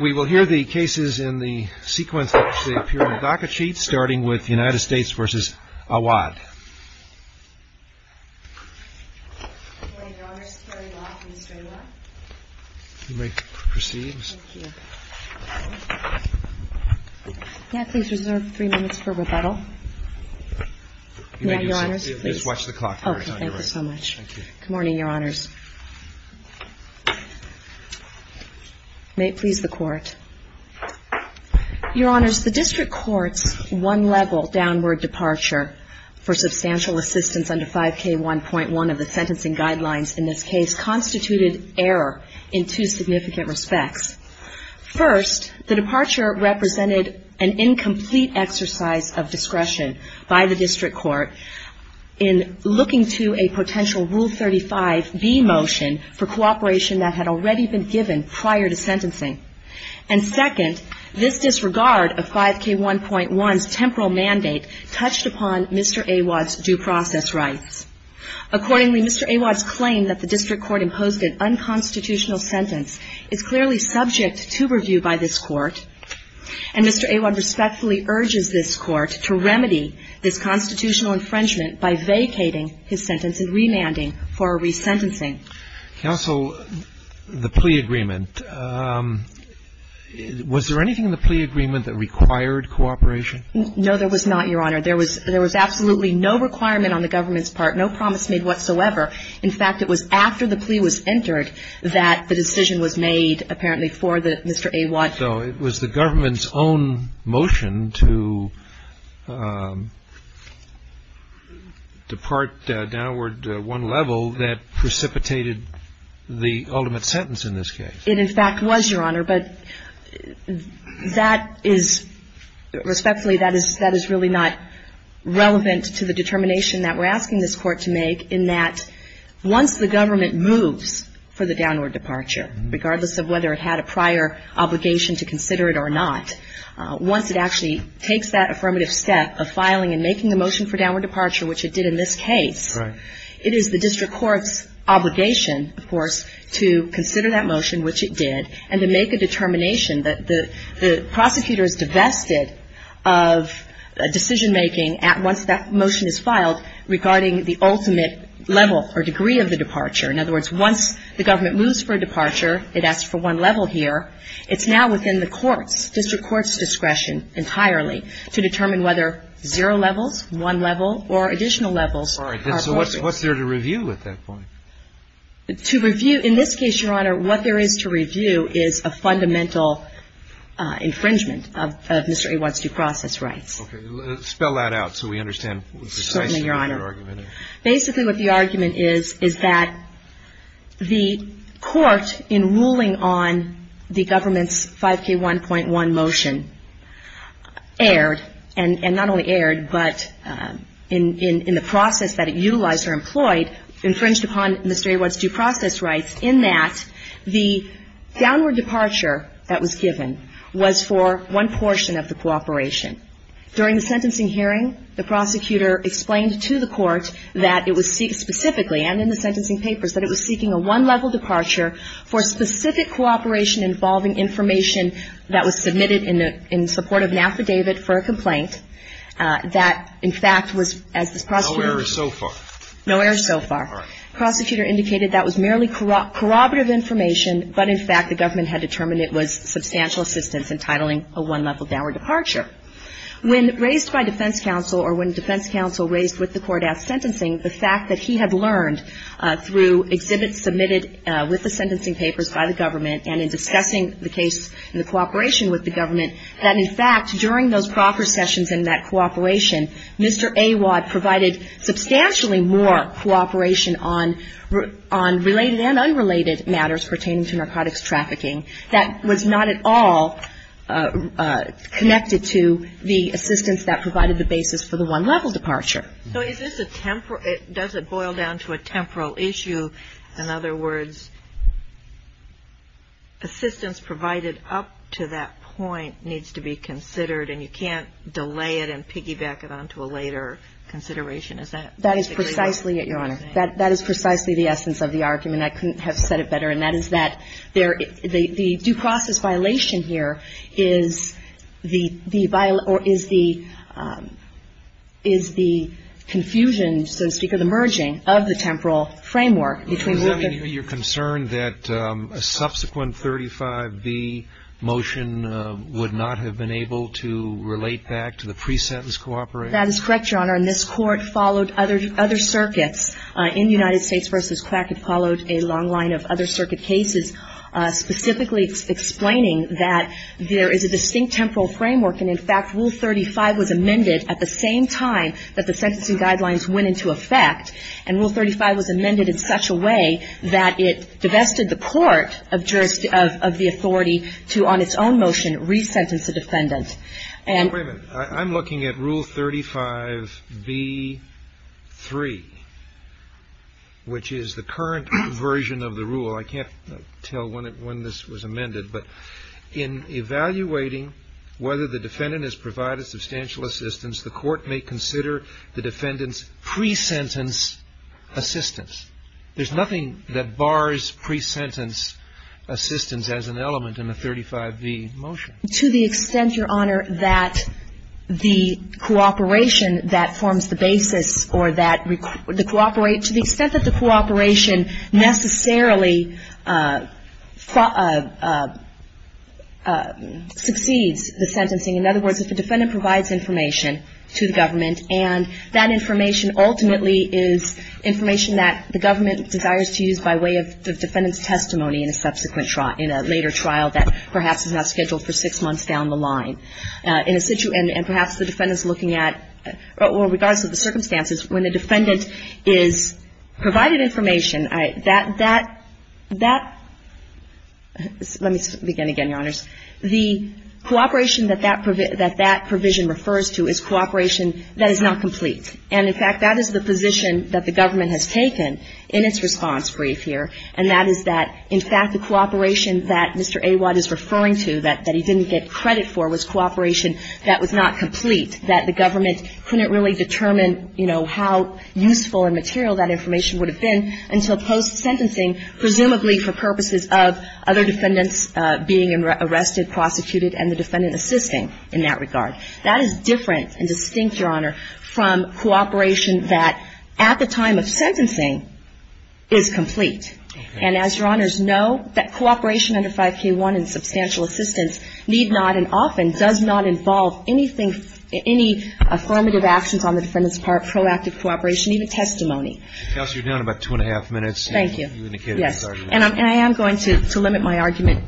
We will hear the cases in the sequence of the document sheets starting with United States v. Awad. May I please reserve three minutes for rebuttal? May I, Your Honors? Please watch the clock. Thank you so much. Good morning, Your Honors. May it please the Court. Your Honors, the District Court's one-level downward departure for substantial assistance under 5K1.1 of the sentencing guidelines in this case constituted error in two significant respects. First, the departure represented an incomplete exercise of discretion by the District Court in looking to a potential Rule 35B motion for cooperation that had already been given prior to sentencing. And second, this disregard of 5K1.1's temporal mandate touched upon Mr. Awad's due process rights. Accordingly, Mr. Awad's claim that the District Court imposed an unconstitutional sentence is clearly subject to review by this Court, and Mr. Awad respectfully urges this Court to remedy this constitutional infringement by vacating his sentence and remanding for a resentencing. Counsel, the plea agreement, was there anything in the plea agreement that required cooperation? No, there was not, Your Honor. There was absolutely no requirement on the government's part, no promise made whatsoever. In fact, it was after the plea was entered that the decision was made, apparently, for Mr. Awad. It was the government's own motion to depart downward one level that precipitated the ultimate sentence in this case. It, in fact, was, Your Honor. But that is, respectfully, that is really not relevant to the determination that we're asking this Court to make in that once the government moves for the downward departure, regardless of whether it had a prior obligation to consider it or not, once it actually takes that affirmative step of filing and making the motion for downward departure, which it did in this case, it is the District Court's obligation, of course, to consider that motion, which it did, and to make a determination. The prosecutor is divested of decision-making once that motion is filed regarding the ultimate level or degree of the departure. In other words, once the government moves for a departure, it asks for one level here. It's now within the Court's, District Court's discretion entirely to determine whether zero levels, one level, or additional levels are appropriate. So what's there to review at that point? To review, in this case, Your Honor, what there is to review is a fundamental infringement of Mr. Awad's due process rights. Okay. Spell that out so we understand precisely what your argument is. Certainly, Your Honor. Basically, what the argument is, is that the Court, in ruling on the government's 5K1.1 motion, erred, and not only erred, but in the process that it utilized or employed, infringed upon Mr. Awad's due process rights in that the downward departure that was given was for one portion of the cooperation. During the sentencing hearing, the prosecutor explained to the Court that it was seeking, specifically, and in the sentencing papers, that it was seeking a one-level departure for specific cooperation involving information that was submitted in support of an affidavit for a complaint that, in fact, was, as the prosecutor indicated. No errors so far. No errors so far. All right. The prosecutor indicated that was merely corroborative information, but, in fact, the government had determined it was substantial assistance entitling a one-level downward departure. When raised by defense counsel or when defense counsel raised with the Court at sentencing, the fact that he had learned through exhibits submitted with the sentencing papers by the government and in discussing the case in the cooperation with the government, that, in fact, during those proper sessions in that cooperation, Mr. Awad provided substantially more cooperation on related and unrelated matters pertaining to narcotics trafficking that was not at all connected to the assistance that provided the basis for the one-level departure. So is this a temporal – does it boil down to a temporal issue? In other words, assistance provided up to that point needs to be considered, and you can't delay it and piggyback it onto a later consideration. Is that basically what you're saying? That is precisely it, Your Honor. That is precisely the essence of the argument. I couldn't have said it better. And that is that the due process violation here is the – or is the confusion, so to speak, or the merging of the temporal framework between what the – would not have been able to relate back to the pre-sentence cooperation? That is correct, Your Honor. And this Court followed other circuits in United States v. Crackett, followed a long line of other circuit cases, specifically explaining that there is a distinct temporal framework, and, in fact, Rule 35 was amended at the same time that the sentencing guidelines went into effect. And Rule 35 was amended in such a way that it divested the court of the authority to, on its own motion, re-sentence a defendant. Wait a minute. I'm looking at Rule 35b-3, which is the current version of the rule. I can't tell when this was amended. But in evaluating whether the defendant has provided substantial assistance, the court may consider the defendant's pre-sentence assistance. There's nothing that bars pre-sentence assistance as an element in the 35b motion. To the extent, Your Honor, that the cooperation that forms the basis or that the – to the extent that the cooperation necessarily succeeds the sentencing, in other words, if a defendant provides information to the government, and that information ultimately is information that the government desires to use by way of the defendant's testimony in a subsequent trial, in a later trial that perhaps is not scheduled for six months down the line, and perhaps the defendant's looking at – or regardless of the circumstances, when the defendant is provided information, that – let me begin again, Your Honors. The cooperation that that provision refers to is cooperation that is not complete. And, in fact, that is the position that the government has taken in its response brief here, and that is that, in fact, the cooperation that Mr. Awad is referring to, that he didn't get credit for, was cooperation that was not complete, that the government couldn't really determine, you know, how useful and material that information would have been until post-sentencing, presumably for purposes of other defendants being arrested, prosecuted, and the defendant assisting in that regard. That is different and distinct, Your Honor, from cooperation that, at the time of sentencing, is complete. And as Your Honors know, that cooperation under 5K1 and substantial assistance need not and often does not involve anything – any affirmative actions on the defendant's part, proactive cooperation, even testimony. Counsel, you're down about two and a half minutes. Thank you. And I am going to limit my argument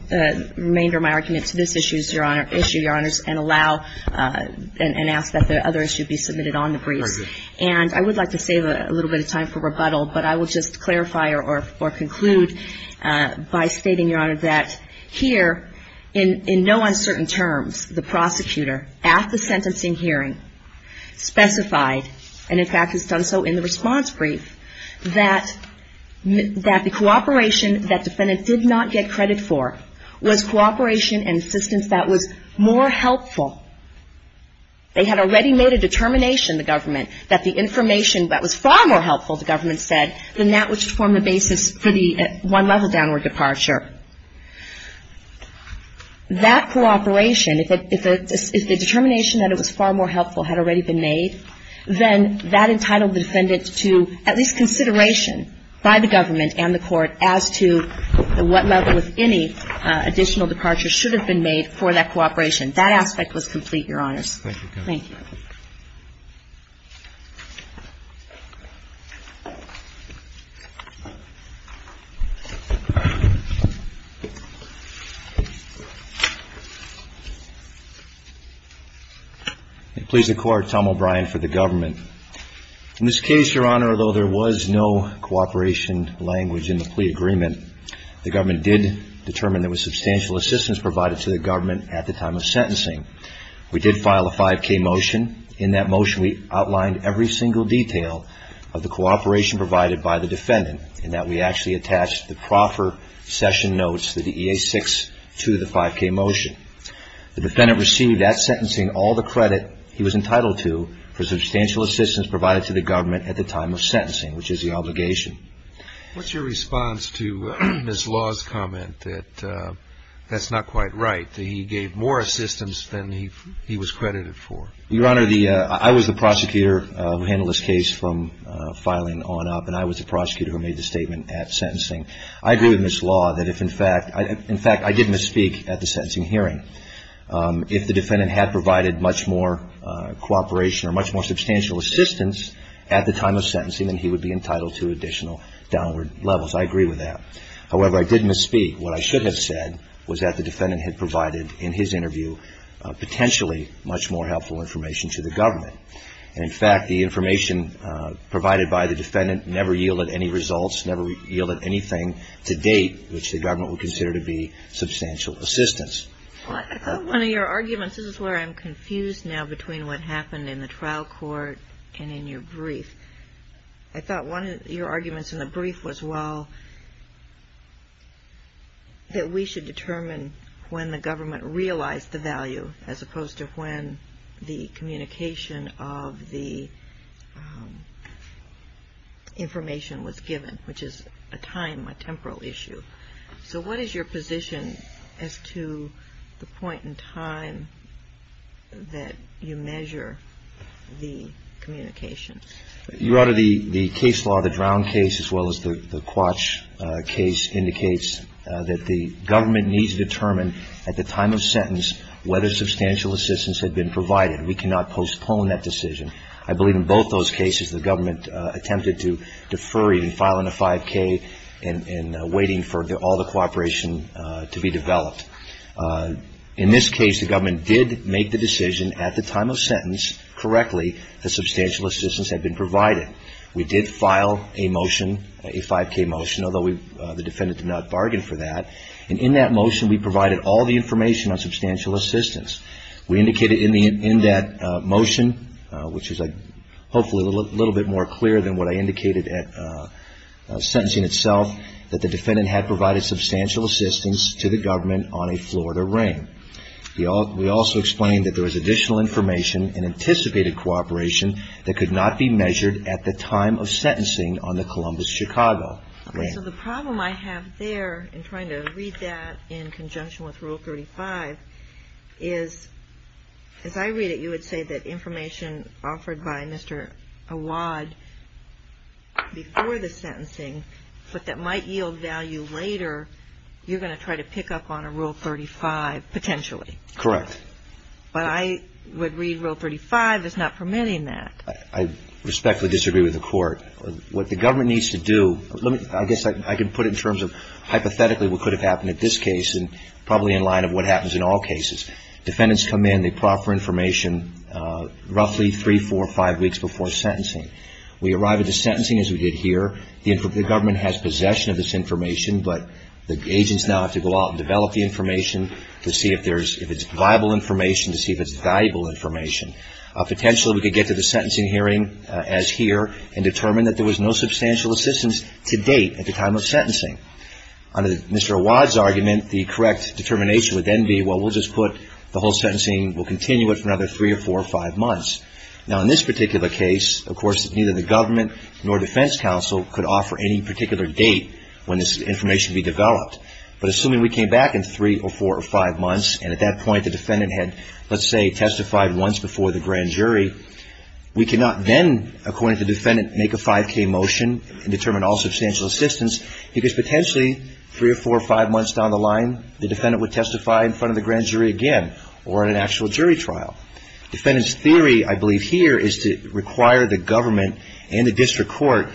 – remainder of my argument to this issue, Your Honors, and allow and ask that the other issue be submitted on the briefs. Very good. And I would like to save a little bit of time for rebuttal, but I will just clarify or conclude by stating, Your Honor, that here, in no uncertain terms, the prosecutor, at the sentencing hearing, specified, and in fact has done so in the response brief, that the cooperation that defendant did not get credit for was cooperation and assistance that was more helpful. They had already made a determination, the government, that the information that was far more helpful, the government said, than that which formed the basis for the one-level downward departure. That cooperation, if the determination that it was far more helpful had already been made, then that entitled the defendant to at least consideration by the government and the court as to what level of any additional departure should have been made for that cooperation. That aspect was complete, Your Honors. Thank you, counsel. Thank you. Please be seated. Please declare Tom O'Brien for the government. In this case, Your Honor, although there was no cooperation language in the plea agreement, the government did determine there was substantial assistance provided to the government at the time of sentencing. We did file a 5K motion. In that motion, we outlined every single detail of the cooperation provided by the defendant, and that we actually attached the proper session notes to the EA6 to the 5K motion. The defendant received at sentencing all the credit he was entitled to for substantial assistance provided to the government at the time of sentencing, which is the obligation. What's your response to Ms. Law's comment that that's not quite right, that he gave more assistance than he was credited for? Your Honor, I was the prosecutor who handled this case from filing on up, and I was the prosecutor who made the statement at sentencing. I agree with Ms. Law that if, in fact, I did misspeak at the sentencing hearing. If the defendant had provided much more cooperation or much more substantial assistance at the time of sentencing, then he would be entitled to additional downward levels. I agree with that. However, I did misspeak. What I should have said was that the defendant had provided in his interview potentially much more helpful information to the government. And, in fact, the information provided by the defendant never yielded any results, never yielded anything to date which the government would consider to be substantial assistance. I thought one of your arguments, this is where I'm confused now between what happened in the trial court and in your brief. I thought one of your arguments in the brief was, well, that we should determine when the government realized the value as opposed to when the communication of the information was given, which is a time, a temporal issue. So what is your position as to the point in time that you measure the communications? Your Honor, the case law, the Drown case, as well as the Quatch case, indicates that the government needs to determine at the time of sentence whether substantial assistance had been provided. We cannot postpone that decision. I believe in both those cases the government attempted to defer even filing a 5K and waiting for all the cooperation to be developed. In this case the government did make the decision at the time of sentence, correctly, that substantial assistance had been provided. We did file a motion, a 5K motion, although the defendant did not bargain for that. And in that motion we provided all the information on substantial assistance. We indicated in that motion, which is hopefully a little bit more clear than what I indicated at sentencing itself, that the defendant had provided substantial assistance to the government on a Florida ring. We also explained that there was additional information and anticipated cooperation that could not be measured at the time of sentencing on the Columbus, Chicago ring. So the problem I have there in trying to read that in conjunction with Rule 35 is, as I read it you would say that information offered by Mr. Awad before the sentencing, but that might yield value later, you're going to try to pick up on a Rule 35 potentially. Correct. But I would read Rule 35 as not permitting that. I respectfully disagree with the Court. What the government needs to do, I guess I can put it in terms of hypothetically what could have happened at this case and probably in line of what happens in all cases. Defendants come in, they proffer information roughly three, four, five weeks before sentencing. We arrive at the sentencing as we did here. The government has possession of this information, but the agents now have to go out and develop the information to see if it's viable information, to see if it's valuable information. Potentially we could get to the sentencing hearing as here and determine that there was no substantial assistance to date at the time of sentencing. Under Mr. Awad's argument, the correct determination would then be, well, we'll just put the whole sentencing, we'll continue it for another three or four or five months. Now, in this particular case, of course, neither the government nor defense counsel could offer any particular date when this information would be developed. But assuming we came back in three or four or five months and at that point the defendant had, let's say, testified once before the grand jury, we could not then, according to the defendant, make a 5K motion and determine all substantial assistance because potentially three or four or five months down the line the defendant would testify in front of the grand jury again or in an actual jury trial. Defendant's theory, I believe, here is to require the government and the district court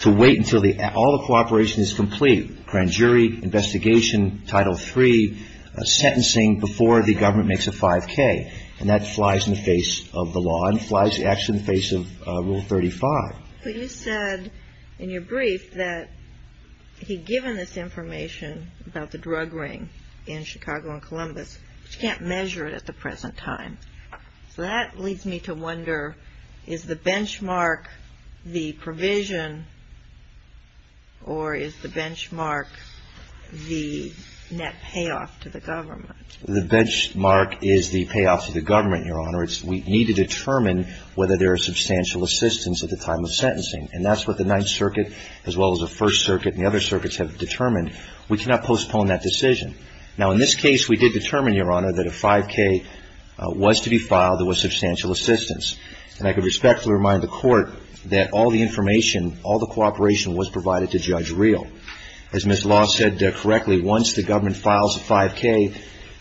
to wait until all the cooperation is complete, grand jury, investigation, Title III, sentencing, before the government makes a 5K. And that flies in the face of the law and flies actually in the face of Rule 35. But you said in your brief that he'd given this information about the drug ring in Chicago and Columbus, but you can't measure it at the present time. So that leads me to wonder, is the benchmark the provision or is the benchmark the net payoff to the government? The benchmark is the payoff to the government, Your Honor. We need to determine whether there is substantial assistance at the time of sentencing. And that's what the Ninth Circuit as well as the First Circuit and the other circuits have determined. We cannot postpone that decision. Now, in this case, we did determine, Your Honor, that a 5K was to be filed, there was substantial assistance. And I could respectfully remind the court that all the information, all the cooperation was provided to Judge Reel. As Ms. Law said correctly, once the government files a 5K,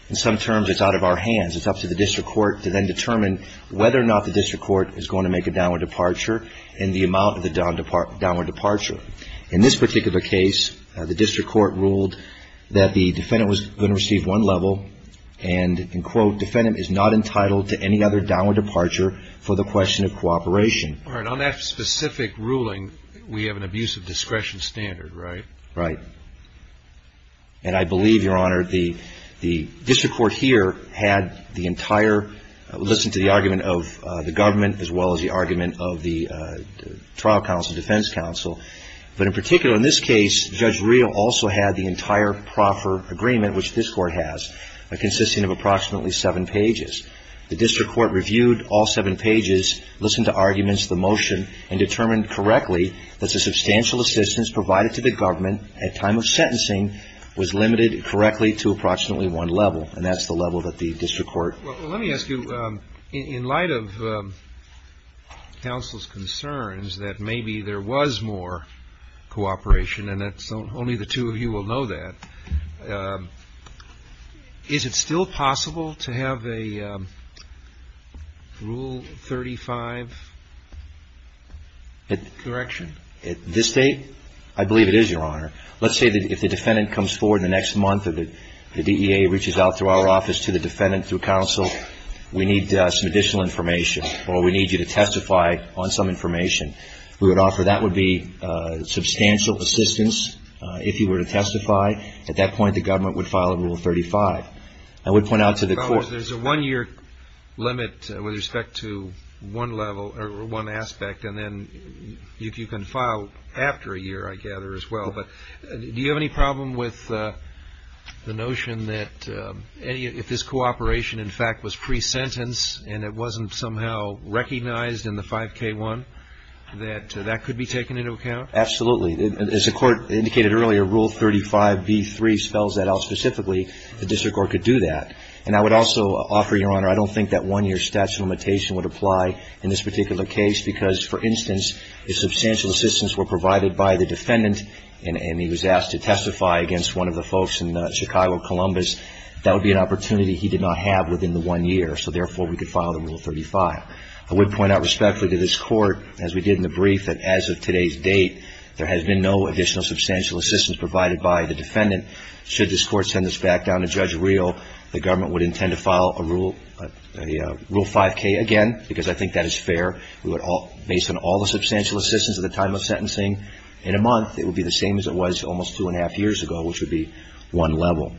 in some terms it's out of our hands. It's up to the district court to then determine whether or not the district court is going to make a downward departure and the amount of the downward departure. In this particular case, the district court ruled that the defendant was going to receive one level and, in quote, defendant is not entitled to any other downward departure for the question of cooperation. All right. On that specific ruling, we have an abuse of discretion standard, right? Right. And I believe, Your Honor, the district court here had the entire, listen to the argument of the government as well as the argument of the trial counsel, defense counsel. But in particular, in this case, Judge Reel also had the entire proffer agreement, which this court has, consisting of approximately seven pages. The district court reviewed all seven pages, listened to arguments, the motion, and determined correctly that the substantial assistance provided to the government at time of sentencing was limited correctly to approximately one level. And that's the level that the district court. Well, let me ask you, in light of counsel's concerns that maybe there was more cooperation, and only the two of you will know that, is it still possible to have a Rule 35 correction? At this date, I believe it is, Your Honor. Let's say that if the defendant comes forward in the next month, or the DEA reaches out through our office to the defendant through counsel, we need some additional information, or we need you to testify on some information, we would offer that would be substantial assistance if you were to testify. At that point, the government would file a Rule 35. I would point out to the court. There's a one-year limit with respect to one level or one aspect, and then you can file after a year, I gather, as well. But do you have any problem with the notion that if this cooperation, in fact, was pre-sentence and it wasn't somehow recognized in the 5K1, that that could be taken into account? Absolutely. As the Court indicated earlier, Rule 35b3 spells that out specifically. The district court could do that. And I would also offer, Your Honor, I don't think that one-year statute of limitation would apply in this particular case because, for instance, if substantial assistance were provided by the defendant and he was asked to testify against one of the folks in Chicago-Columbus, that would be an opportunity he did not have within the one year. So, therefore, we could file the Rule 35. I would point out respectfully to this Court, as we did in the brief, that as of today's date, there has been no additional substantial assistance provided by the defendant. Should this Court send this back down to Judge Reel, the government would intend to file a Rule 5K again because I think that is fair. Based on all the substantial assistance at the time of sentencing, in a month it would be the same as it was almost two-and-a-half years ago, which would be one level.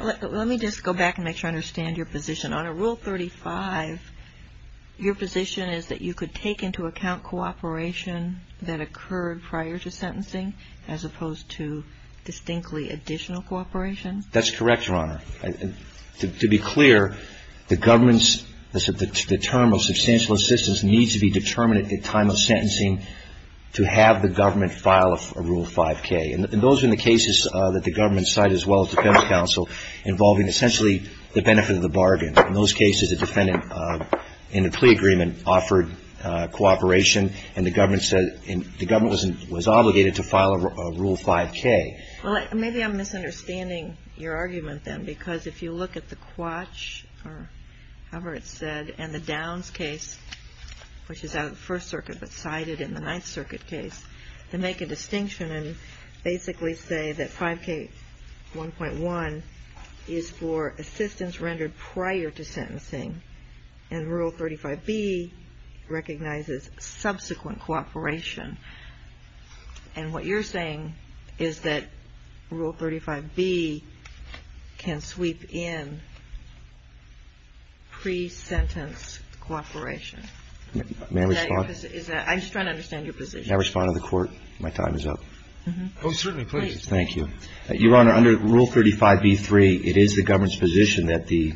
Let me just go back and make sure I understand your position. On Rule 35, your position is that you could take into account cooperation that occurred prior to sentencing as opposed to distinctly additional cooperation? That's correct, Your Honor. To be clear, the government's term of substantial assistance needs to be determined at the time of sentencing to have the government file a Rule 5K. And those are the cases that the government cited as well as defense counsel, involving essentially the benefit of the bargain. In those cases, the defendant, in a plea agreement, offered cooperation and the government was obligated to file a Rule 5K. Well, maybe I'm misunderstanding your argument then because if you look at the Quatch, or however it's said, and the Downs case, which is out of the First Circuit but cited in the Ninth Circuit case, they make a distinction and basically say that 5K 1.1 is for assistance rendered prior to sentencing and Rule 35B recognizes subsequent cooperation. And what you're saying is that Rule 35B can sweep in pre-sentence cooperation. May I respond? I'm just trying to understand your position. May I respond to the Court? My time is up. Certainly, please. Thank you. Your Honor, under Rule 35B3, it is the government's position that the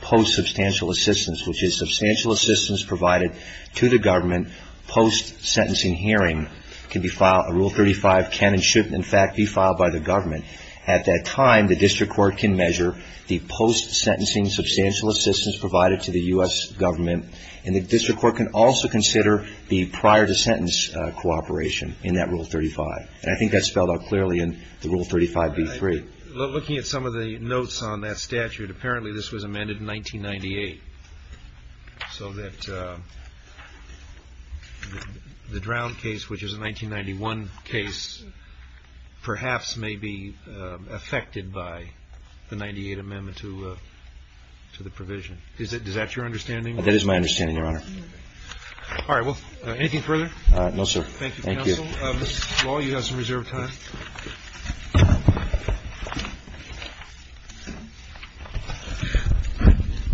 post-substantial assistance, which is substantial assistance provided to the government post-sentencing hearing, Rule 35 can and should, in fact, be filed by the government. At that time, the district court can measure the post-sentencing substantial assistance provided to the U.S. government and the district court can also consider the prior-to-sentence cooperation in that Rule 35. And I think that's spelled out clearly in the Rule 35B3. Looking at some of the notes on that statute, apparently this was amended in 1998 so that the Drown case, which is a 1991 case, perhaps may be affected by the 98 Amendment to the provision. Is that your understanding? That is my understanding, Your Honor. All right. Well, anything further? No, sir. Thank you, counsel. Thank you. Ms. Wall, you have some reserved time.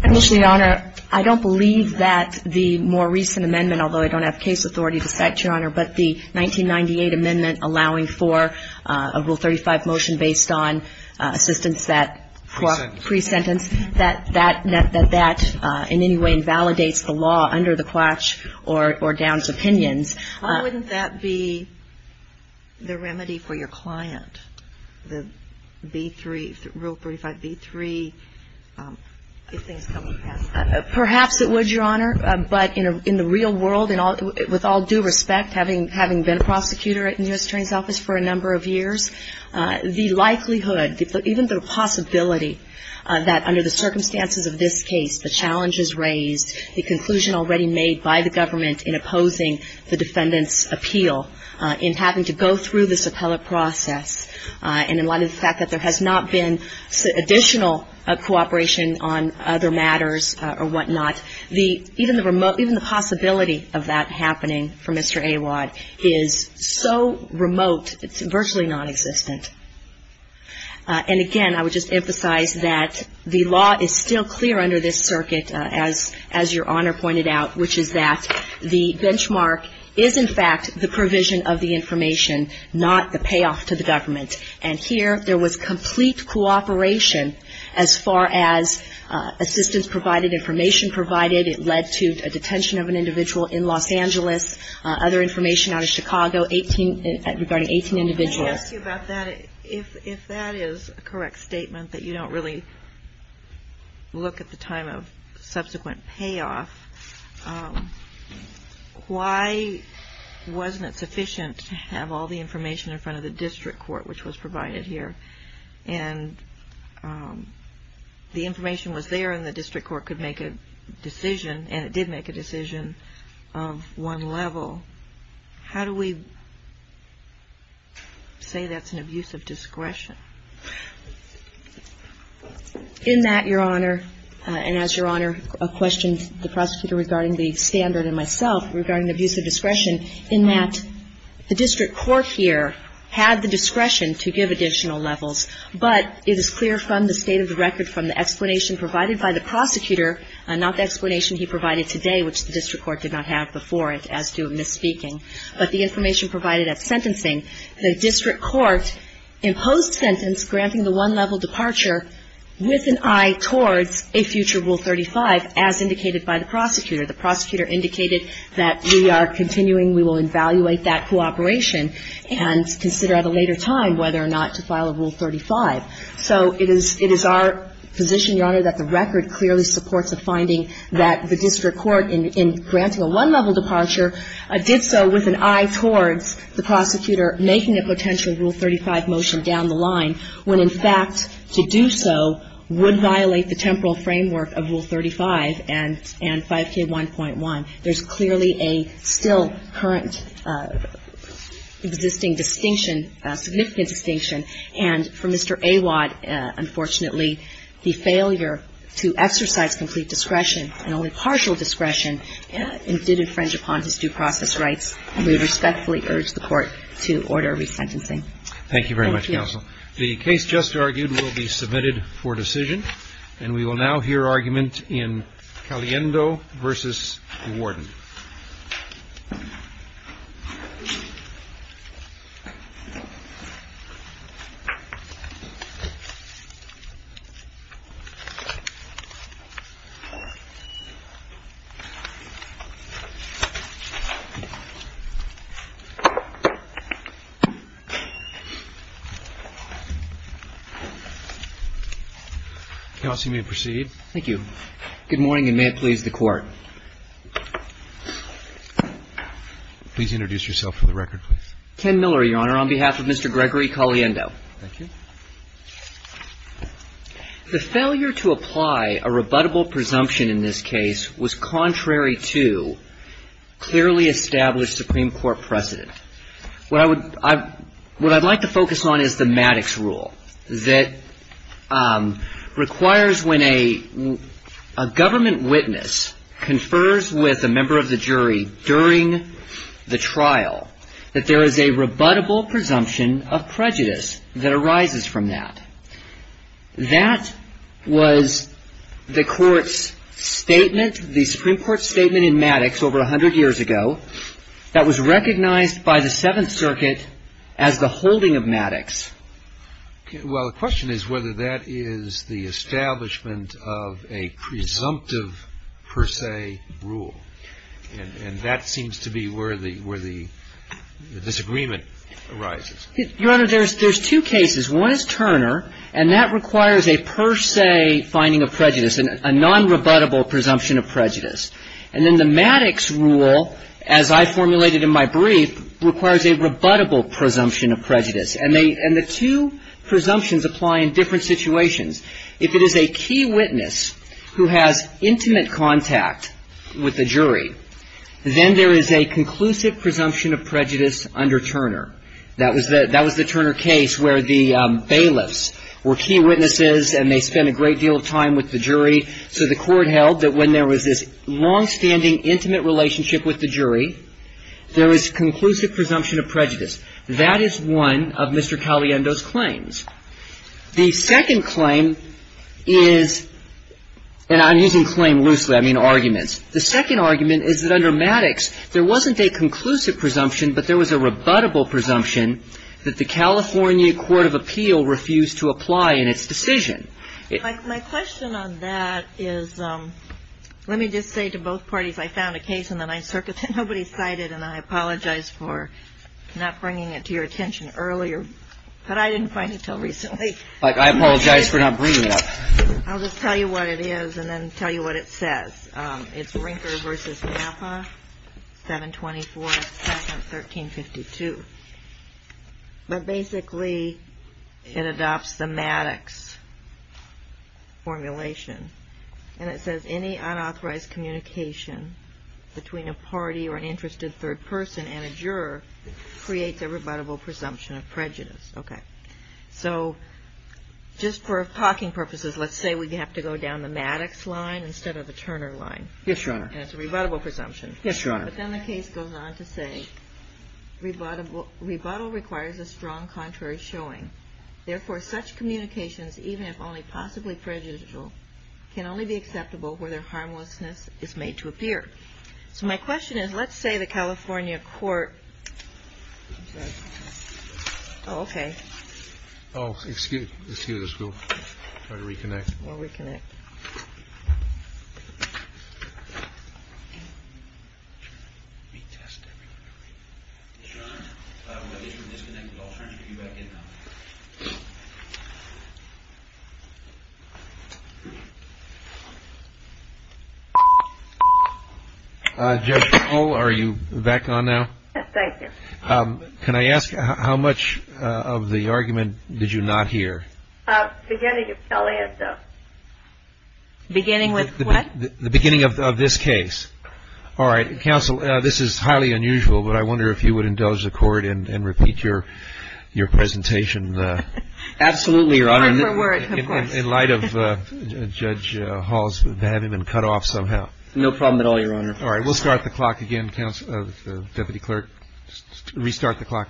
Commissioner, Your Honor, I don't believe that the more recent amendment, although I don't have case authority to cite, Your Honor, but the 1998 amendment allowing for a Rule 35 motion based on assistance that pre-sentence, that that in any way invalidates the law under the Quatch or Downs opinions. Why wouldn't that be the remedy for your client, the B3, Rule 35B3, if things come to pass? Perhaps it would, Your Honor, but in the real world, with all due respect, having been a prosecutor at the U.S. Attorney's Office for a number of years, the likelihood, even the possibility that under the circumstances of this case, the challenges raised, the conclusion already made by the government in opposing the defendant's appeal, in having to go through this appellate process, and in light of the fact that there has not been additional cooperation on other matters or whatnot, even the possibility of that happening for Mr. Awad is so remote, it's virtually nonexistent. And again, I would just emphasize that the law is still clear under this circuit, as Your Honor pointed out, which is that the benchmark is, in fact, the provision of the information, not the payoff to the government. And here, there was complete cooperation as far as assistance provided, information provided. It led to a detention of an individual in Los Angeles. Other information out of Chicago regarding 18 individuals. Can I ask you about that? If that is a correct statement, that you don't really look at the time of subsequent payoff, why wasn't it sufficient to have all the information in front of the district court, which was provided here? And the information was there, and the district court could make a decision, and it did make a decision of one level. How do we say that's an abuse of discretion? In that, Your Honor, and as Your Honor questioned the prosecutor regarding the standard and myself regarding the abuse of discretion, in that the district court here had the discretion to give additional levels, but it is clear from the state of the record from the explanation provided by the prosecutor, not the explanation he provided today, which the district court did not have before it, as to misspeaking, but the information provided at sentencing, the district court imposed sentence granting the one-level departure with an eye towards a future Rule 35, as indicated by the prosecutor. The prosecutor indicated that we are continuing, we will evaluate that cooperation and consider at a later time whether or not to file a Rule 35. So it is our position, Your Honor, that the record clearly supports the finding that the district court in granting a one-level departure did so with an eye towards the prosecutor making a potential Rule 35 motion down the line, when, in fact, to do so would violate the temporal framework of Rule 35 and 5K1.1. There's clearly a still current existing distinction, significant distinction, and for Mr. Awad, unfortunately, the failure to exercise complete discretion and only partial discretion did infringe upon his due process rights. We respectfully urge the Court to order resentencing. Thank you. Thank you very much, counsel. The case just argued will be submitted for decision. And we will now hear argument in Caliendo v. Warden. Counsel, you may proceed. Thank you. Good morning, and may it please the Court. Please introduce yourself for the record, please. Ken Miller, Your Honor, on behalf of Mr. Gregory Caliendo. Thank you. The failure to apply a rebuttable presumption in this case was contrary to clearly established Supreme Court precedent. What I'd like to focus on is the Maddox Rule that requires when a government witness confers with a member of the jury during the trial that there is a rebuttable presumption of prejudice that arises from that. That was the Court's statement, the Supreme Court's statement in Maddox over 100 years ago that was recognized by the Seventh Circuit as the holding of Maddox. Okay. Well, the question is whether that is the establishment of a presumptive per se rule. And that seems to be where the disagreement arises. Your Honor, there's two cases. One is Turner, and that requires a per se finding of prejudice, a nonrebuttable presumption of prejudice. And then the Maddox Rule, as I formulated in my brief, requires a rebuttable presumption of prejudice. And the two presumptions apply in different situations. If it is a key witness who has intimate contact with the jury, then there is a conclusive presumption of prejudice under Turner. That was the Turner case where the bailiffs were key witnesses and they spent a great deal of time with the jury. So the Court held that when there was this longstanding intimate relationship with the jury, there was conclusive presumption of prejudice. That is one of Mr. Caliendo's claims. The second claim is, and I'm using claim loosely. I mean arguments. The second argument is that under Maddox, there wasn't a conclusive presumption, but there was a rebuttable presumption that the California Court of Appeal refused to apply in its decision. My question on that is, let me just say to both parties, I found a case and then I circled it. Nobody cited it. And I apologize for not bringing it to your attention earlier. But I didn't find it until recently. I apologize for not bringing it up. I'll just tell you what it is and then tell you what it says. It's Rinker v. Napa, 724, 1352. But basically, it adopts the Maddox formulation. And it says any unauthorized communication between a party or an interested third person and a juror creates a rebuttable presumption of prejudice. Okay. So just for talking purposes, let's say we have to go down the Maddox line instead of the Turner line. Yes, Your Honor. And it's a rebuttable presumption. Yes, Your Honor. But then the case goes on to say, rebuttal requires a strong contrary showing. Therefore, such communications, even if only possibly prejudicial, can only be acceptable where their harmlessness is made to appear. So my question is, let's say the California court ‑‑ oh, okay. Oh, excuse us. We'll try to reconnect. We'll reconnect. Let me test everything. Yes, Your Honor. We'll disconnect. We'll all turn to you back in now. Judge Cole, are you back on now? Yes, thank you. Can I ask, how much of the argument did you not hear? Beginning of Kelly and Doe. Beginning with what? The beginning of this case. All right. Counsel, this is highly unusual, but I wonder if you would indulge the Court and repeat your presentation. Absolutely, Your Honor. Word for word, of course. In light of Judge Hall's having been cut off somehow. No problem at all, Your Honor. All right. We'll start the clock again, Deputy Clerk. Restart the clock.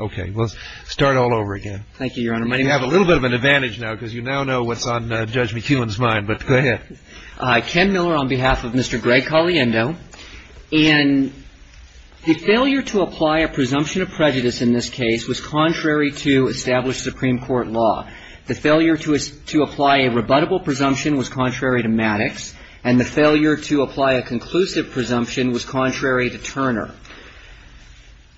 Okay. We'll start all over again. Thank you, Your Honor. You have a little bit of an advantage now because you now know what's on Judge McKeown's mind, but go ahead. Ken Miller on behalf of Mr. Greg Colliendo. And the failure to apply a presumption of prejudice in this case was contrary to established Supreme Court law. The failure to apply a rebuttable presumption was contrary to Maddox. And the failure to apply a conclusive presumption was contrary to Turner.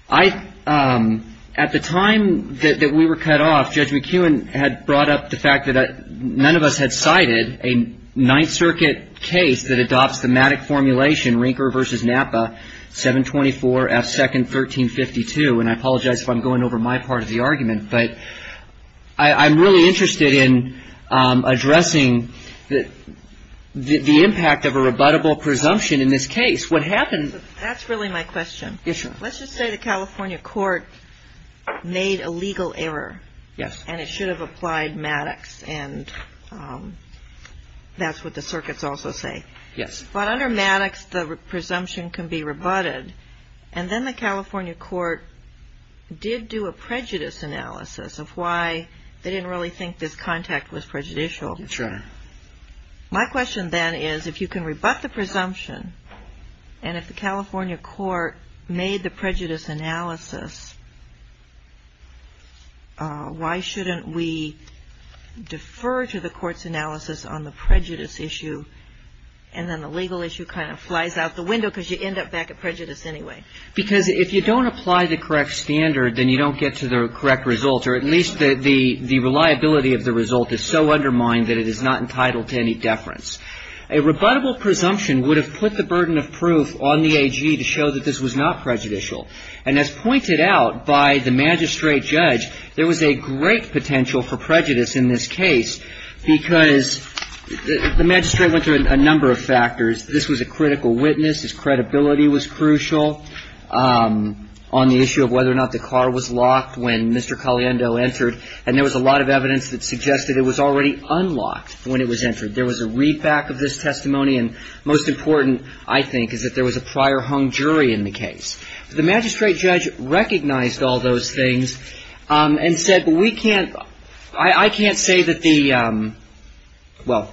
At the time that we were cut off, Judge McKeown had brought up the fact that none of us had cited a Ninth Circuit case that adopts the Maddox formulation, Rinker v. Napa, 724 F. 2nd, 1352. And I apologize if I'm going over my part of the argument. But I'm really interested in addressing the impact of a rebuttable presumption in this case. That's really my question. Yes, Your Honor. Let's just say the California court made a legal error. Yes. And it should have applied Maddox. And that's what the circuits also say. Yes. But under Maddox, the presumption can be rebutted. And then the California court did do a prejudice analysis of why they didn't really think this contact was prejudicial. Sure. My question, then, is if you can rebut the presumption, and if the California court made the prejudice analysis, why shouldn't we defer to the court's analysis on the prejudice issue, and then the legal issue kind of flies out the window because you end up back at prejudice anyway? Because if you don't apply the correct standard, then you don't get to the correct result, or at least the reliability of the result is so undermined that it is not entitled to any deference. A rebuttable presumption would have put the burden of proof on the AG to show that this was not prejudicial. And as pointed out by the magistrate judge, there was a great potential for prejudice in this case because the magistrate went through a number of factors. This was a critical witness. His credibility was crucial on the issue of whether or not the car was locked when Mr. Caliendo entered, and there was a lot of evidence that suggested it was already unlocked when it was entered. There was a readback of this testimony, and most important, I think, is that there was a prior hung jury in the case. The magistrate judge recognized all those things and said, well, we can't, I can't say that the, well,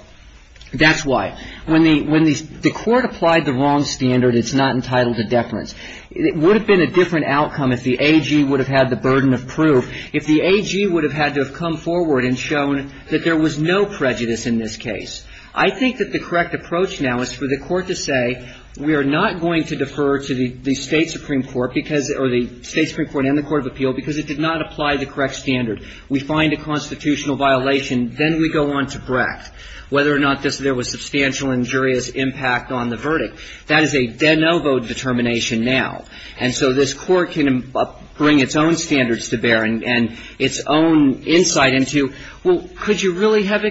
that's why. When the court applied the wrong standard, it's not entitled to deference. It would have been a different outcome if the AG would have had the burden of proof, if the AG would have had to have come forward and shown that there was no prejudice in this case. I think that the correct approach now is for the court to say we are not going to defer to the State Supreme Court because, or the State Supreme Court and the court of appeal because it did not apply the correct standard. We find a constitutional violation, then we go on to Brecht, whether or not there was substantial injurious impact on the verdict. That is a de novo determination now. And so this court can bring its own standards to bear and its own insight into, well, could you really have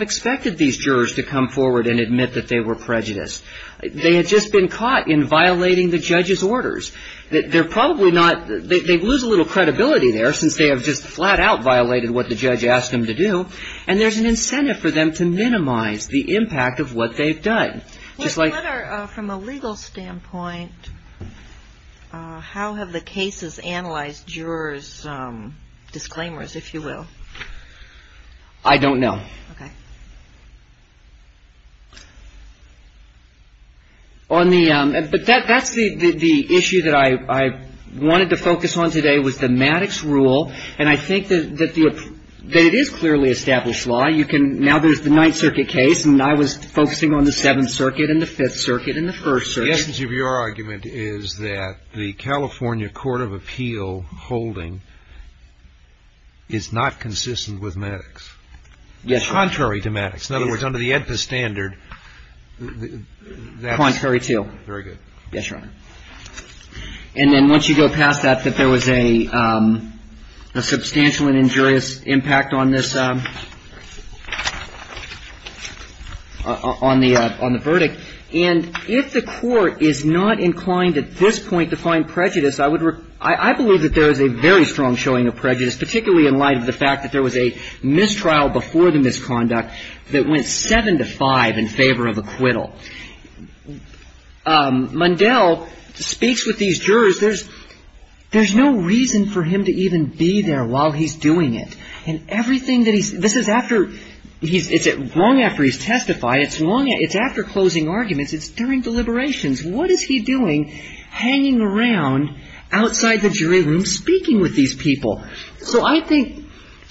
expected these jurors to come forward and admit that they were prejudiced? They had just been caught in violating the judge's orders. They're probably not, they lose a little credibility there since they have just flat-out violated what the judge asked them to do. And there's an incentive for them to minimize the impact of what they've done. From a legal standpoint, how have the cases analyzed jurors' disclaimers, if you will? I don't know. Okay. But that's the issue that I wanted to focus on today was the Maddox rule, and I think that it is clearly established law. Now you can, now there's the Ninth Circuit case, and I was focusing on the Seventh Circuit and the Fifth Circuit and the First Circuit. The essence of your argument is that the California Court of Appeal holding is not consistent with Maddox. Yes, Your Honor. Contrary to Maddox. Yes. In other words, under the AEDPA standard, that's. Contrary to. Very good. Yes, Your Honor. And then once you go past that, that there was a substantial and injurious impact on this, on the verdict. And if the Court is not inclined at this point to find prejudice, I would, I believe that there is a very strong showing of prejudice, particularly in light of the fact that there was a mistrial before the misconduct that went 7 to 5 in favor of acquittal. Mundell speaks with these jurors. There's no reason for him to even be there while he's doing it. And everything that he's, this is after, it's long after he's testified. It's long, it's after closing arguments. It's during deliberations. What is he doing hanging around outside the jury room speaking with these people? So I think.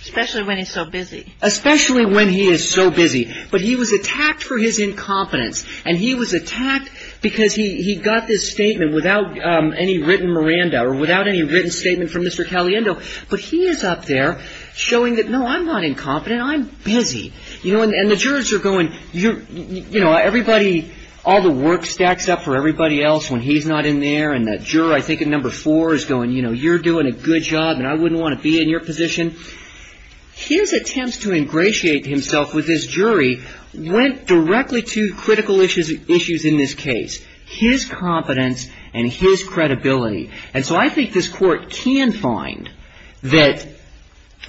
Especially when he's so busy. Especially when he is so busy. But he was attacked for his incompetence. And he was attacked because he got this statement without any written Miranda or without any written statement from Mr. Caliendo. But he is up there showing that, no, I'm not incompetent. I'm busy. You know, and the jurors are going, you know, everybody, all the work stacks up for everybody else when he's not in there. And the juror, I think, at number four is going, you know, you're doing a good job and I wouldn't want to be in your position. His attempts to ingratiate himself with this jury went directly to critical issues in this case. His competence and his credibility. And so I think this Court can find that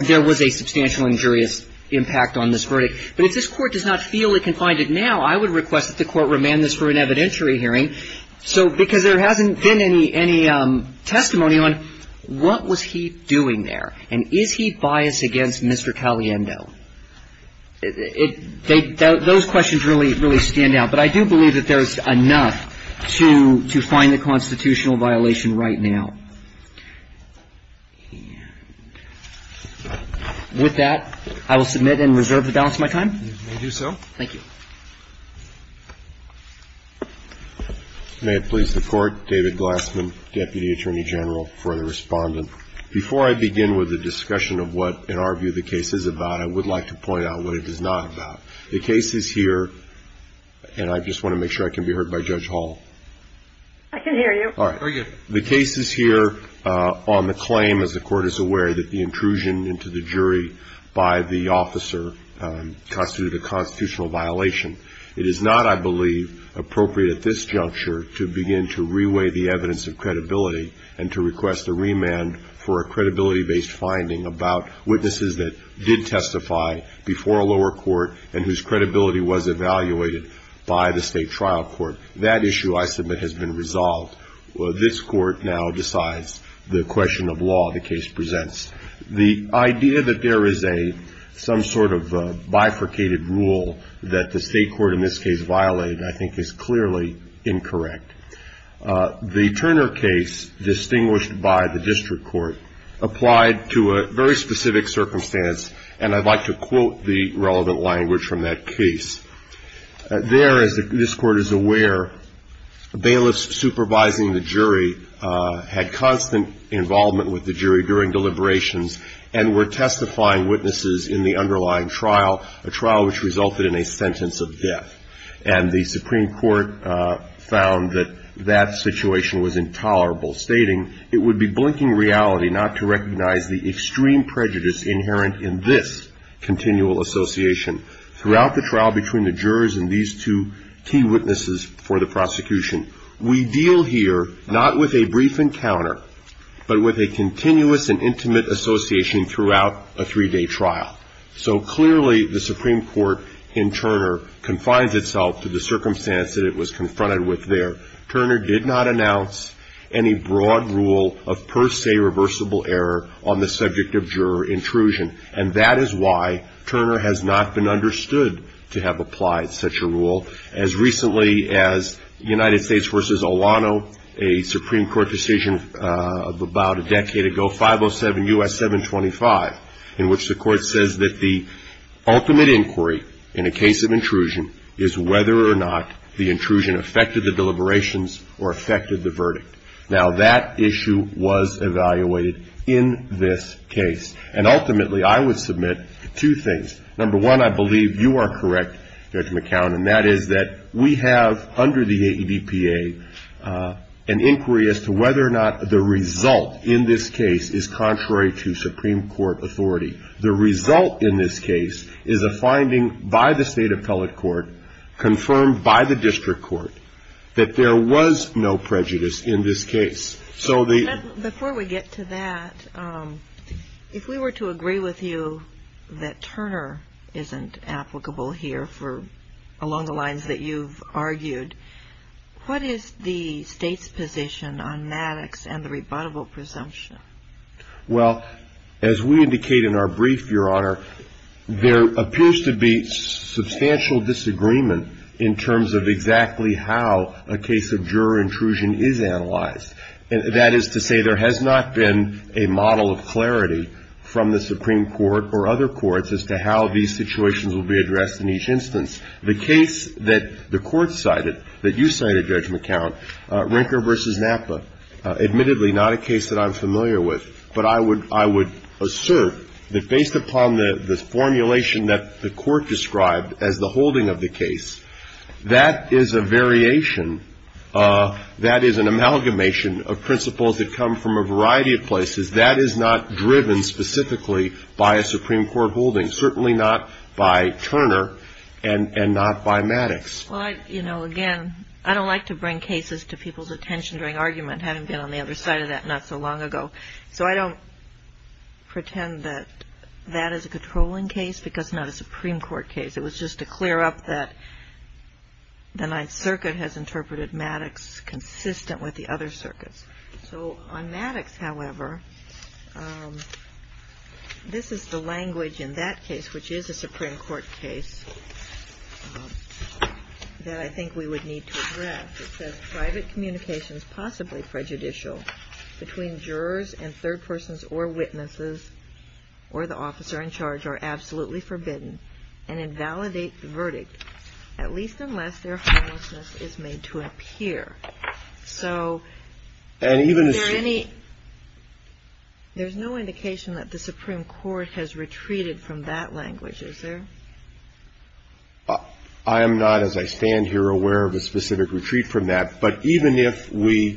there was a substantial injurious impact on this verdict. But if this Court does not feel it can find it now, I would request that the Court remand this for an evidentiary hearing. So because there hasn't been any testimony on what was he doing there. And is he biased against Mr. Caliendo? Those questions really stand out. But I do believe that there is enough to find the constitutional violation right now. And with that, I will submit and reserve the balance of my time. Thank you. May it please the Court. David Glassman, Deputy Attorney General for the Respondent. Before I begin with the discussion of what, in our view, the case is about, I would like to point out what it is not about. The case is here, and I just want to make sure I can be heard by Judge Hall. I can hear you. All right. Very good. The case is here on the claim, as the Court is aware, that the intrusion into the jury by the officer, constitute a constitutional violation. It is not, I believe, appropriate at this juncture to begin to reweigh the evidence of credibility and to request a remand for a credibility-based finding about witnesses that did testify before a lower court and whose credibility was evaluated by the State Trial Court. That issue, I submit, has been resolved. This Court now decides the question of law the case presents. The idea that there is some sort of bifurcated rule that the State Court in this case violated, I think, is clearly incorrect. The Turner case, distinguished by the District Court, applied to a very specific circumstance, and I'd like to quote the relevant language from that case. There, as this Court is aware, bailiffs supervising the jury had constant involvement with the jury during deliberations and were testifying witnesses in the underlying trial, a trial which resulted in a sentence of death. And the Supreme Court found that that situation was intolerable, stating, it would be blinking reality not to recognize the extreme prejudice inherent in this continual association. Throughout the trial between the jurors and these two key witnesses for the prosecution, we deal here not with a brief encounter but with a continuous and intimate association throughout a three-day trial. So clearly the Supreme Court in Turner confines itself to the circumstance that it was confronted with there. Turner did not announce any broad rule of per se reversible error on the subject of juror intrusion, and that is why Turner has not been understood to have applied such a rule. As recently as United States v. Olano, a Supreme Court decision about a decade ago, 507 U.S. 725, in which the Court says that the ultimate inquiry in a case of intrusion is whether or not the intrusion affected the deliberations or affected the verdict. Now, that issue was evaluated in this case, and ultimately I would submit two things. Number one, I believe you are correct, Judge McCown, and that is that we have under the AEDPA an inquiry as to whether or not the result in this case is contrary to Supreme Court authority. The result in this case is a finding by the State Appellate Court, confirmed by the District Court, that there was no prejudice in this case. Before we get to that, if we were to agree with you that Turner isn't applicable here for along the lines that you've argued, what is the State's position on Maddox and the rebuttable presumption? Well, as we indicate in our brief, Your Honor, there appears to be substantial disagreement in terms of exactly how a case of juror intrusion is analyzed. That is to say there has not been a model of clarity from the Supreme Court or other courts as to how these situations will be addressed in each instance. The case that the Court cited, that you cited, Judge McCown, Rinker v. Napa, admittedly not a case that I'm familiar with, but I would assert that based upon the formulation that the Court described as the holding of the case, that is a variation, that is an amalgamation of principles that come from a variety of places. That is not driven specifically by a Supreme Court holding, certainly not by Turner and not by Maddox. Well, you know, again, I don't like to bring cases to people's attention during argument having been on the other side of that not so long ago. So I don't pretend that that is a controlling case because it's not a Supreme Court case. It was just to clear up that the Ninth Circuit has interpreted Maddox consistent with the other circuits. So on Maddox, however, this is the language in that case, which is a Supreme Court case that I think we would need to address. It says private communications possibly prejudicial between jurors and third persons or witnesses or the officer in charge are absolutely forbidden and invalidate the verdict, at least unless their homelessness is made to appear. So is there any – there's no indication that the Supreme Court has retreated from that language, is there? I am not, as I stand here, aware of a specific retreat from that. But even if we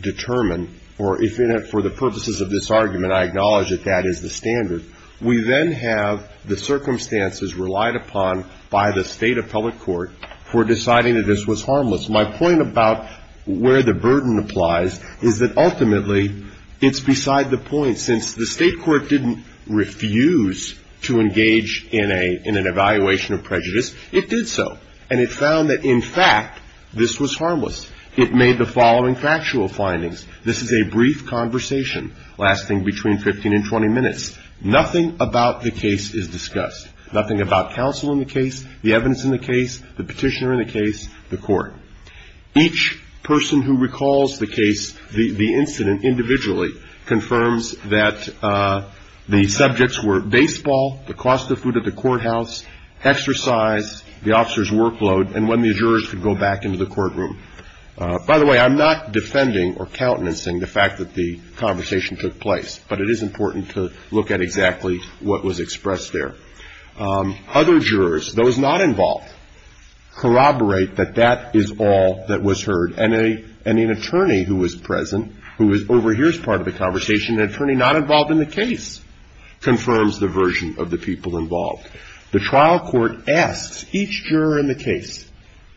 determine, or if for the purposes of this argument I acknowledge that that is the standard, we then have the circumstances relied upon by the state of public court for deciding that this was harmless. My point about where the burden applies is that ultimately it's beside the point. Since the state court didn't refuse to engage in an evaluation of prejudice, it did so. And it found that, in fact, this was harmless. It made the following factual findings. This is a brief conversation lasting between 15 and 20 minutes. Nothing about the case is discussed. Nothing about counsel in the case, the evidence in the case, the petitioner in the case, the court. Each person who recalls the case, the incident individually, confirms that the subjects were baseball, the cost of food at the courthouse, exercise, the officer's workload, and when the jurors could go back into the courtroom. By the way, I'm not defending or countenancing the fact that the conversation took place, but it is important to look at exactly what was expressed there. Other jurors, those not involved, corroborate that that is all that was heard. And an attorney who was present, who overhears part of the conversation, an attorney not involved in the case, confirms the version of the people involved. The trial court asks each juror in the case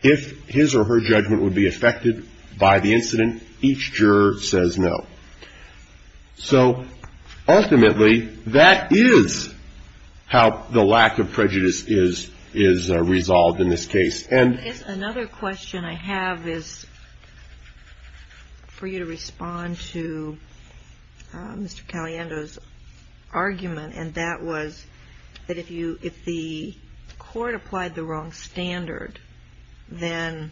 if his or her judgment would be affected by the incident. Each juror says no. So ultimately, that is how the lack of prejudice is resolved in this case. And another question I have is for you to respond to Mr. Caliendo's argument, and that was that if the court applied the wrong standard, then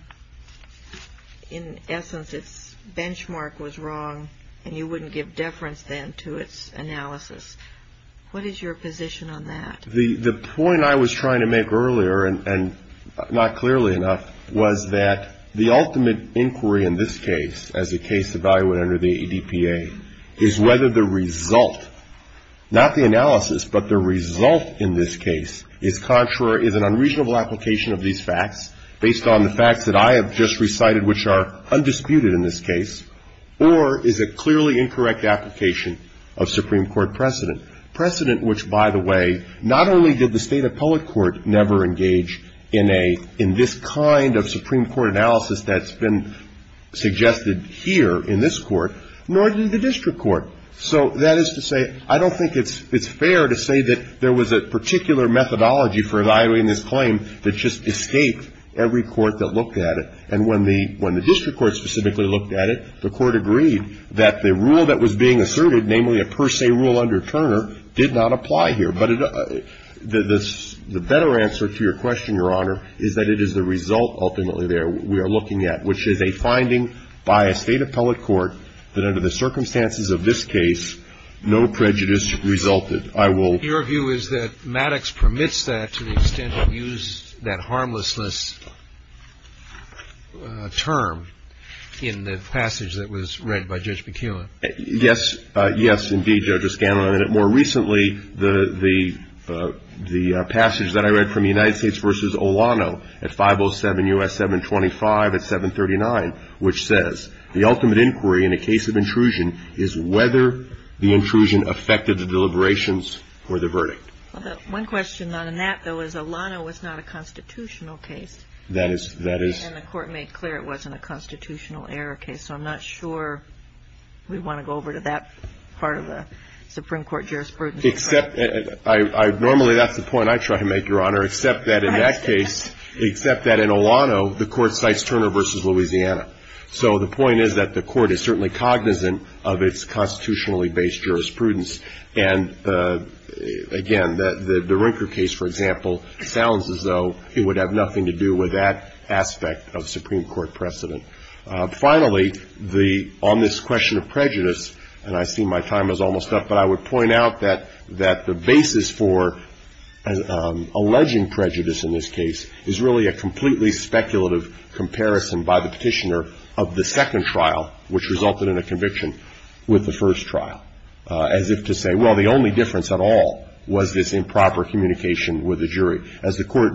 in essence its benchmark was wrong, and you wouldn't give deference then to its analysis. What is your position on that? The point I was trying to make earlier, and not clearly enough, was that the ultimate inquiry in this case, as a case evaluated under the ADPA, is whether the result, not the analysis, but the result in this case, is an unreasonable application of these facts, based on the facts that I have just recited, which are undisputed in this case, or is a clearly incorrect application of Supreme Court precedent. Precedent which, by the way, not only did the State Appellate Court never engage in a in this kind of Supreme Court analysis that's been suggested here in this Court, nor did the district court. So that is to say, I don't think it's fair to say that there was a particular methodology for evaluating this claim that just escaped every court that looked at it. And when the district court specifically looked at it, the court agreed that the rule that was being asserted, namely a per se rule under Turner, did not apply here. But the better answer to your question, Your Honor, is that it is the result ultimately there we are looking at, which is a finding by a State Appellate Court that under the circumstances of this case, no prejudice resulted. I will ---- Your view is that Maddox permits that to the extent it used that harmlessness term in the passage that was read by Judge McKeown. Yes. Yes, indeed, Judge O'Scanlan. And more recently, the passage that I read from United States v. Olano at 507 U.S. 725 at 739, which says, the ultimate inquiry in a case of intrusion is whether the intrusion affected the deliberations or the verdict. One question on that, though, is Olano was not a constitutional case. That is, that is. And the Court made clear it wasn't a constitutional error case. So I'm not sure we want to go over to that part of the Supreme Court jurisprudence question. Except that I ---- normally that's the point I try to make, Your Honor, except that in that case, except that in Olano, the Court cites Turner v. Louisiana. So the point is that the Court is certainly cognizant of its constitutionally based jurisprudence. And, again, the Rinker case, for example, sounds as though it would have nothing to do with that aspect of Supreme Court precedent. Finally, the ---- on this question of prejudice, and I see my time is almost up, but I And the fact that there is no precedent for prejudice in this case is really a completely speculative comparison by the Petitioner of the second trial, which resulted in a conviction, with the first trial. As if to say, well, the only difference at all was this improper communication with the jury. Mr.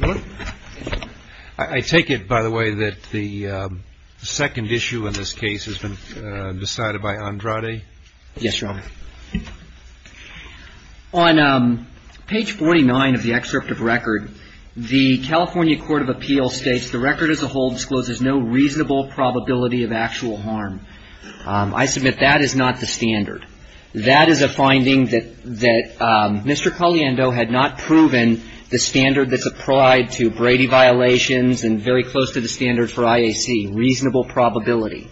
Miller? I take it, by the way, that the second issue in this case has been decided by Andrade? Yes, Your Honor. On page 49 of the excerpt of record, the California Court of Appeals states, The record as a whole discloses no reasonable probability of actual harm. I submit that is not the standard. That is a finding that Mr. Caliendo had not proven the standard that's applied to Brady violations and very close to the standard for IAC, reasonable probability.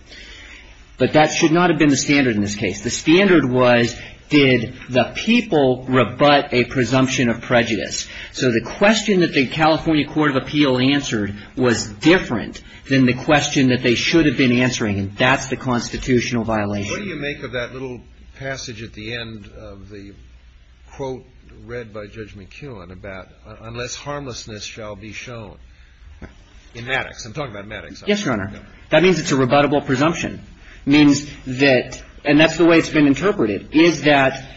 But that should not have been the standard in this case. The standard was, did the people rebut a presumption of prejudice? So the question that the California Court of Appeals answered was different than the question that they should have been answering, and that's the constitutional violation. What do you make of that little passage at the end of the quote read by Judge McKeown about unless harmlessness shall be shown? In Maddox. I'm talking about Maddox. Yes, Your Honor. That means it's a rebuttable presumption. It means that, and that's the way it's been interpreted, is that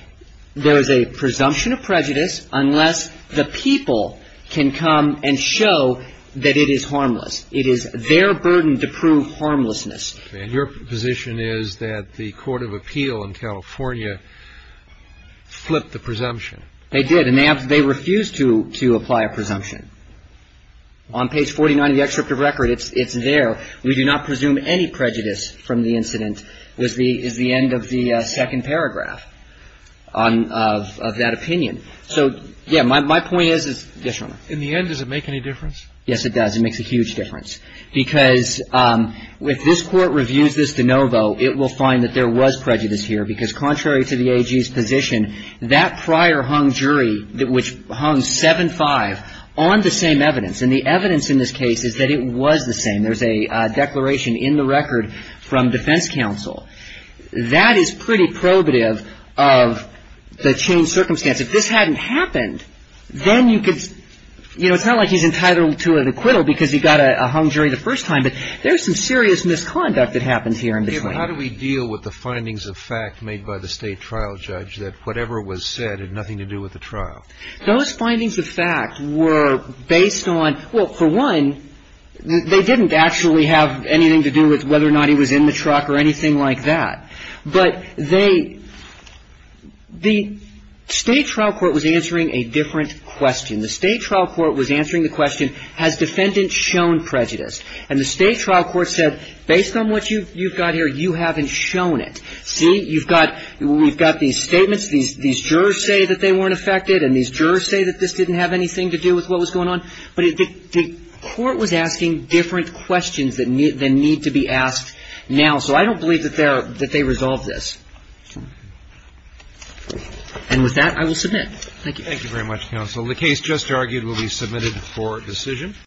there is a presumption of prejudice unless the people can come and show that it is harmless. It is their burden to prove harmlessness. And your position is that the Court of Appeal in California flipped the presumption. They did. And they refused to apply a presumption. On page 49 of the excerpt of record, it's there. We do not presume any prejudice from the incident is the end of the second paragraph of that opinion. So, yeah, my point is, yes, Your Honor. In the end, does it make any difference? Yes, it does. It makes a huge difference. Because if this Court reviews this de novo, it will find that there was prejudice here because contrary to the AG's position, that prior hung jury, which hung 7-5, on the same evidence. And the evidence in this case is that it was the same. There's a declaration in the record from defense counsel. That is pretty probative of the changed circumstance. If this hadn't happened, then you could, you know, it's not like he's entitled to an acquittal because he got a hung jury the first time. But there's some serious misconduct that happens here in between. How do we deal with the findings of fact made by the State trial judge that whatever was said had nothing to do with the trial? Those findings of fact were based on, well, for one, they didn't actually have anything to do with whether or not he was in the truck or anything like that. But they – the State trial court was answering a different question. The State trial court was answering the question, has defendant shown prejudice? And the State trial court said, based on what you've got here, you haven't shown it. See? You've got these statements. These jurors say that they weren't affected. And these jurors say that this didn't have anything to do with what was going on. But the court was asking different questions than need to be asked now. So I don't believe that they're – that they resolved this. And with that, I will submit. Thank you. Thank you very much, counsel. The case just argued will be submitted for decision.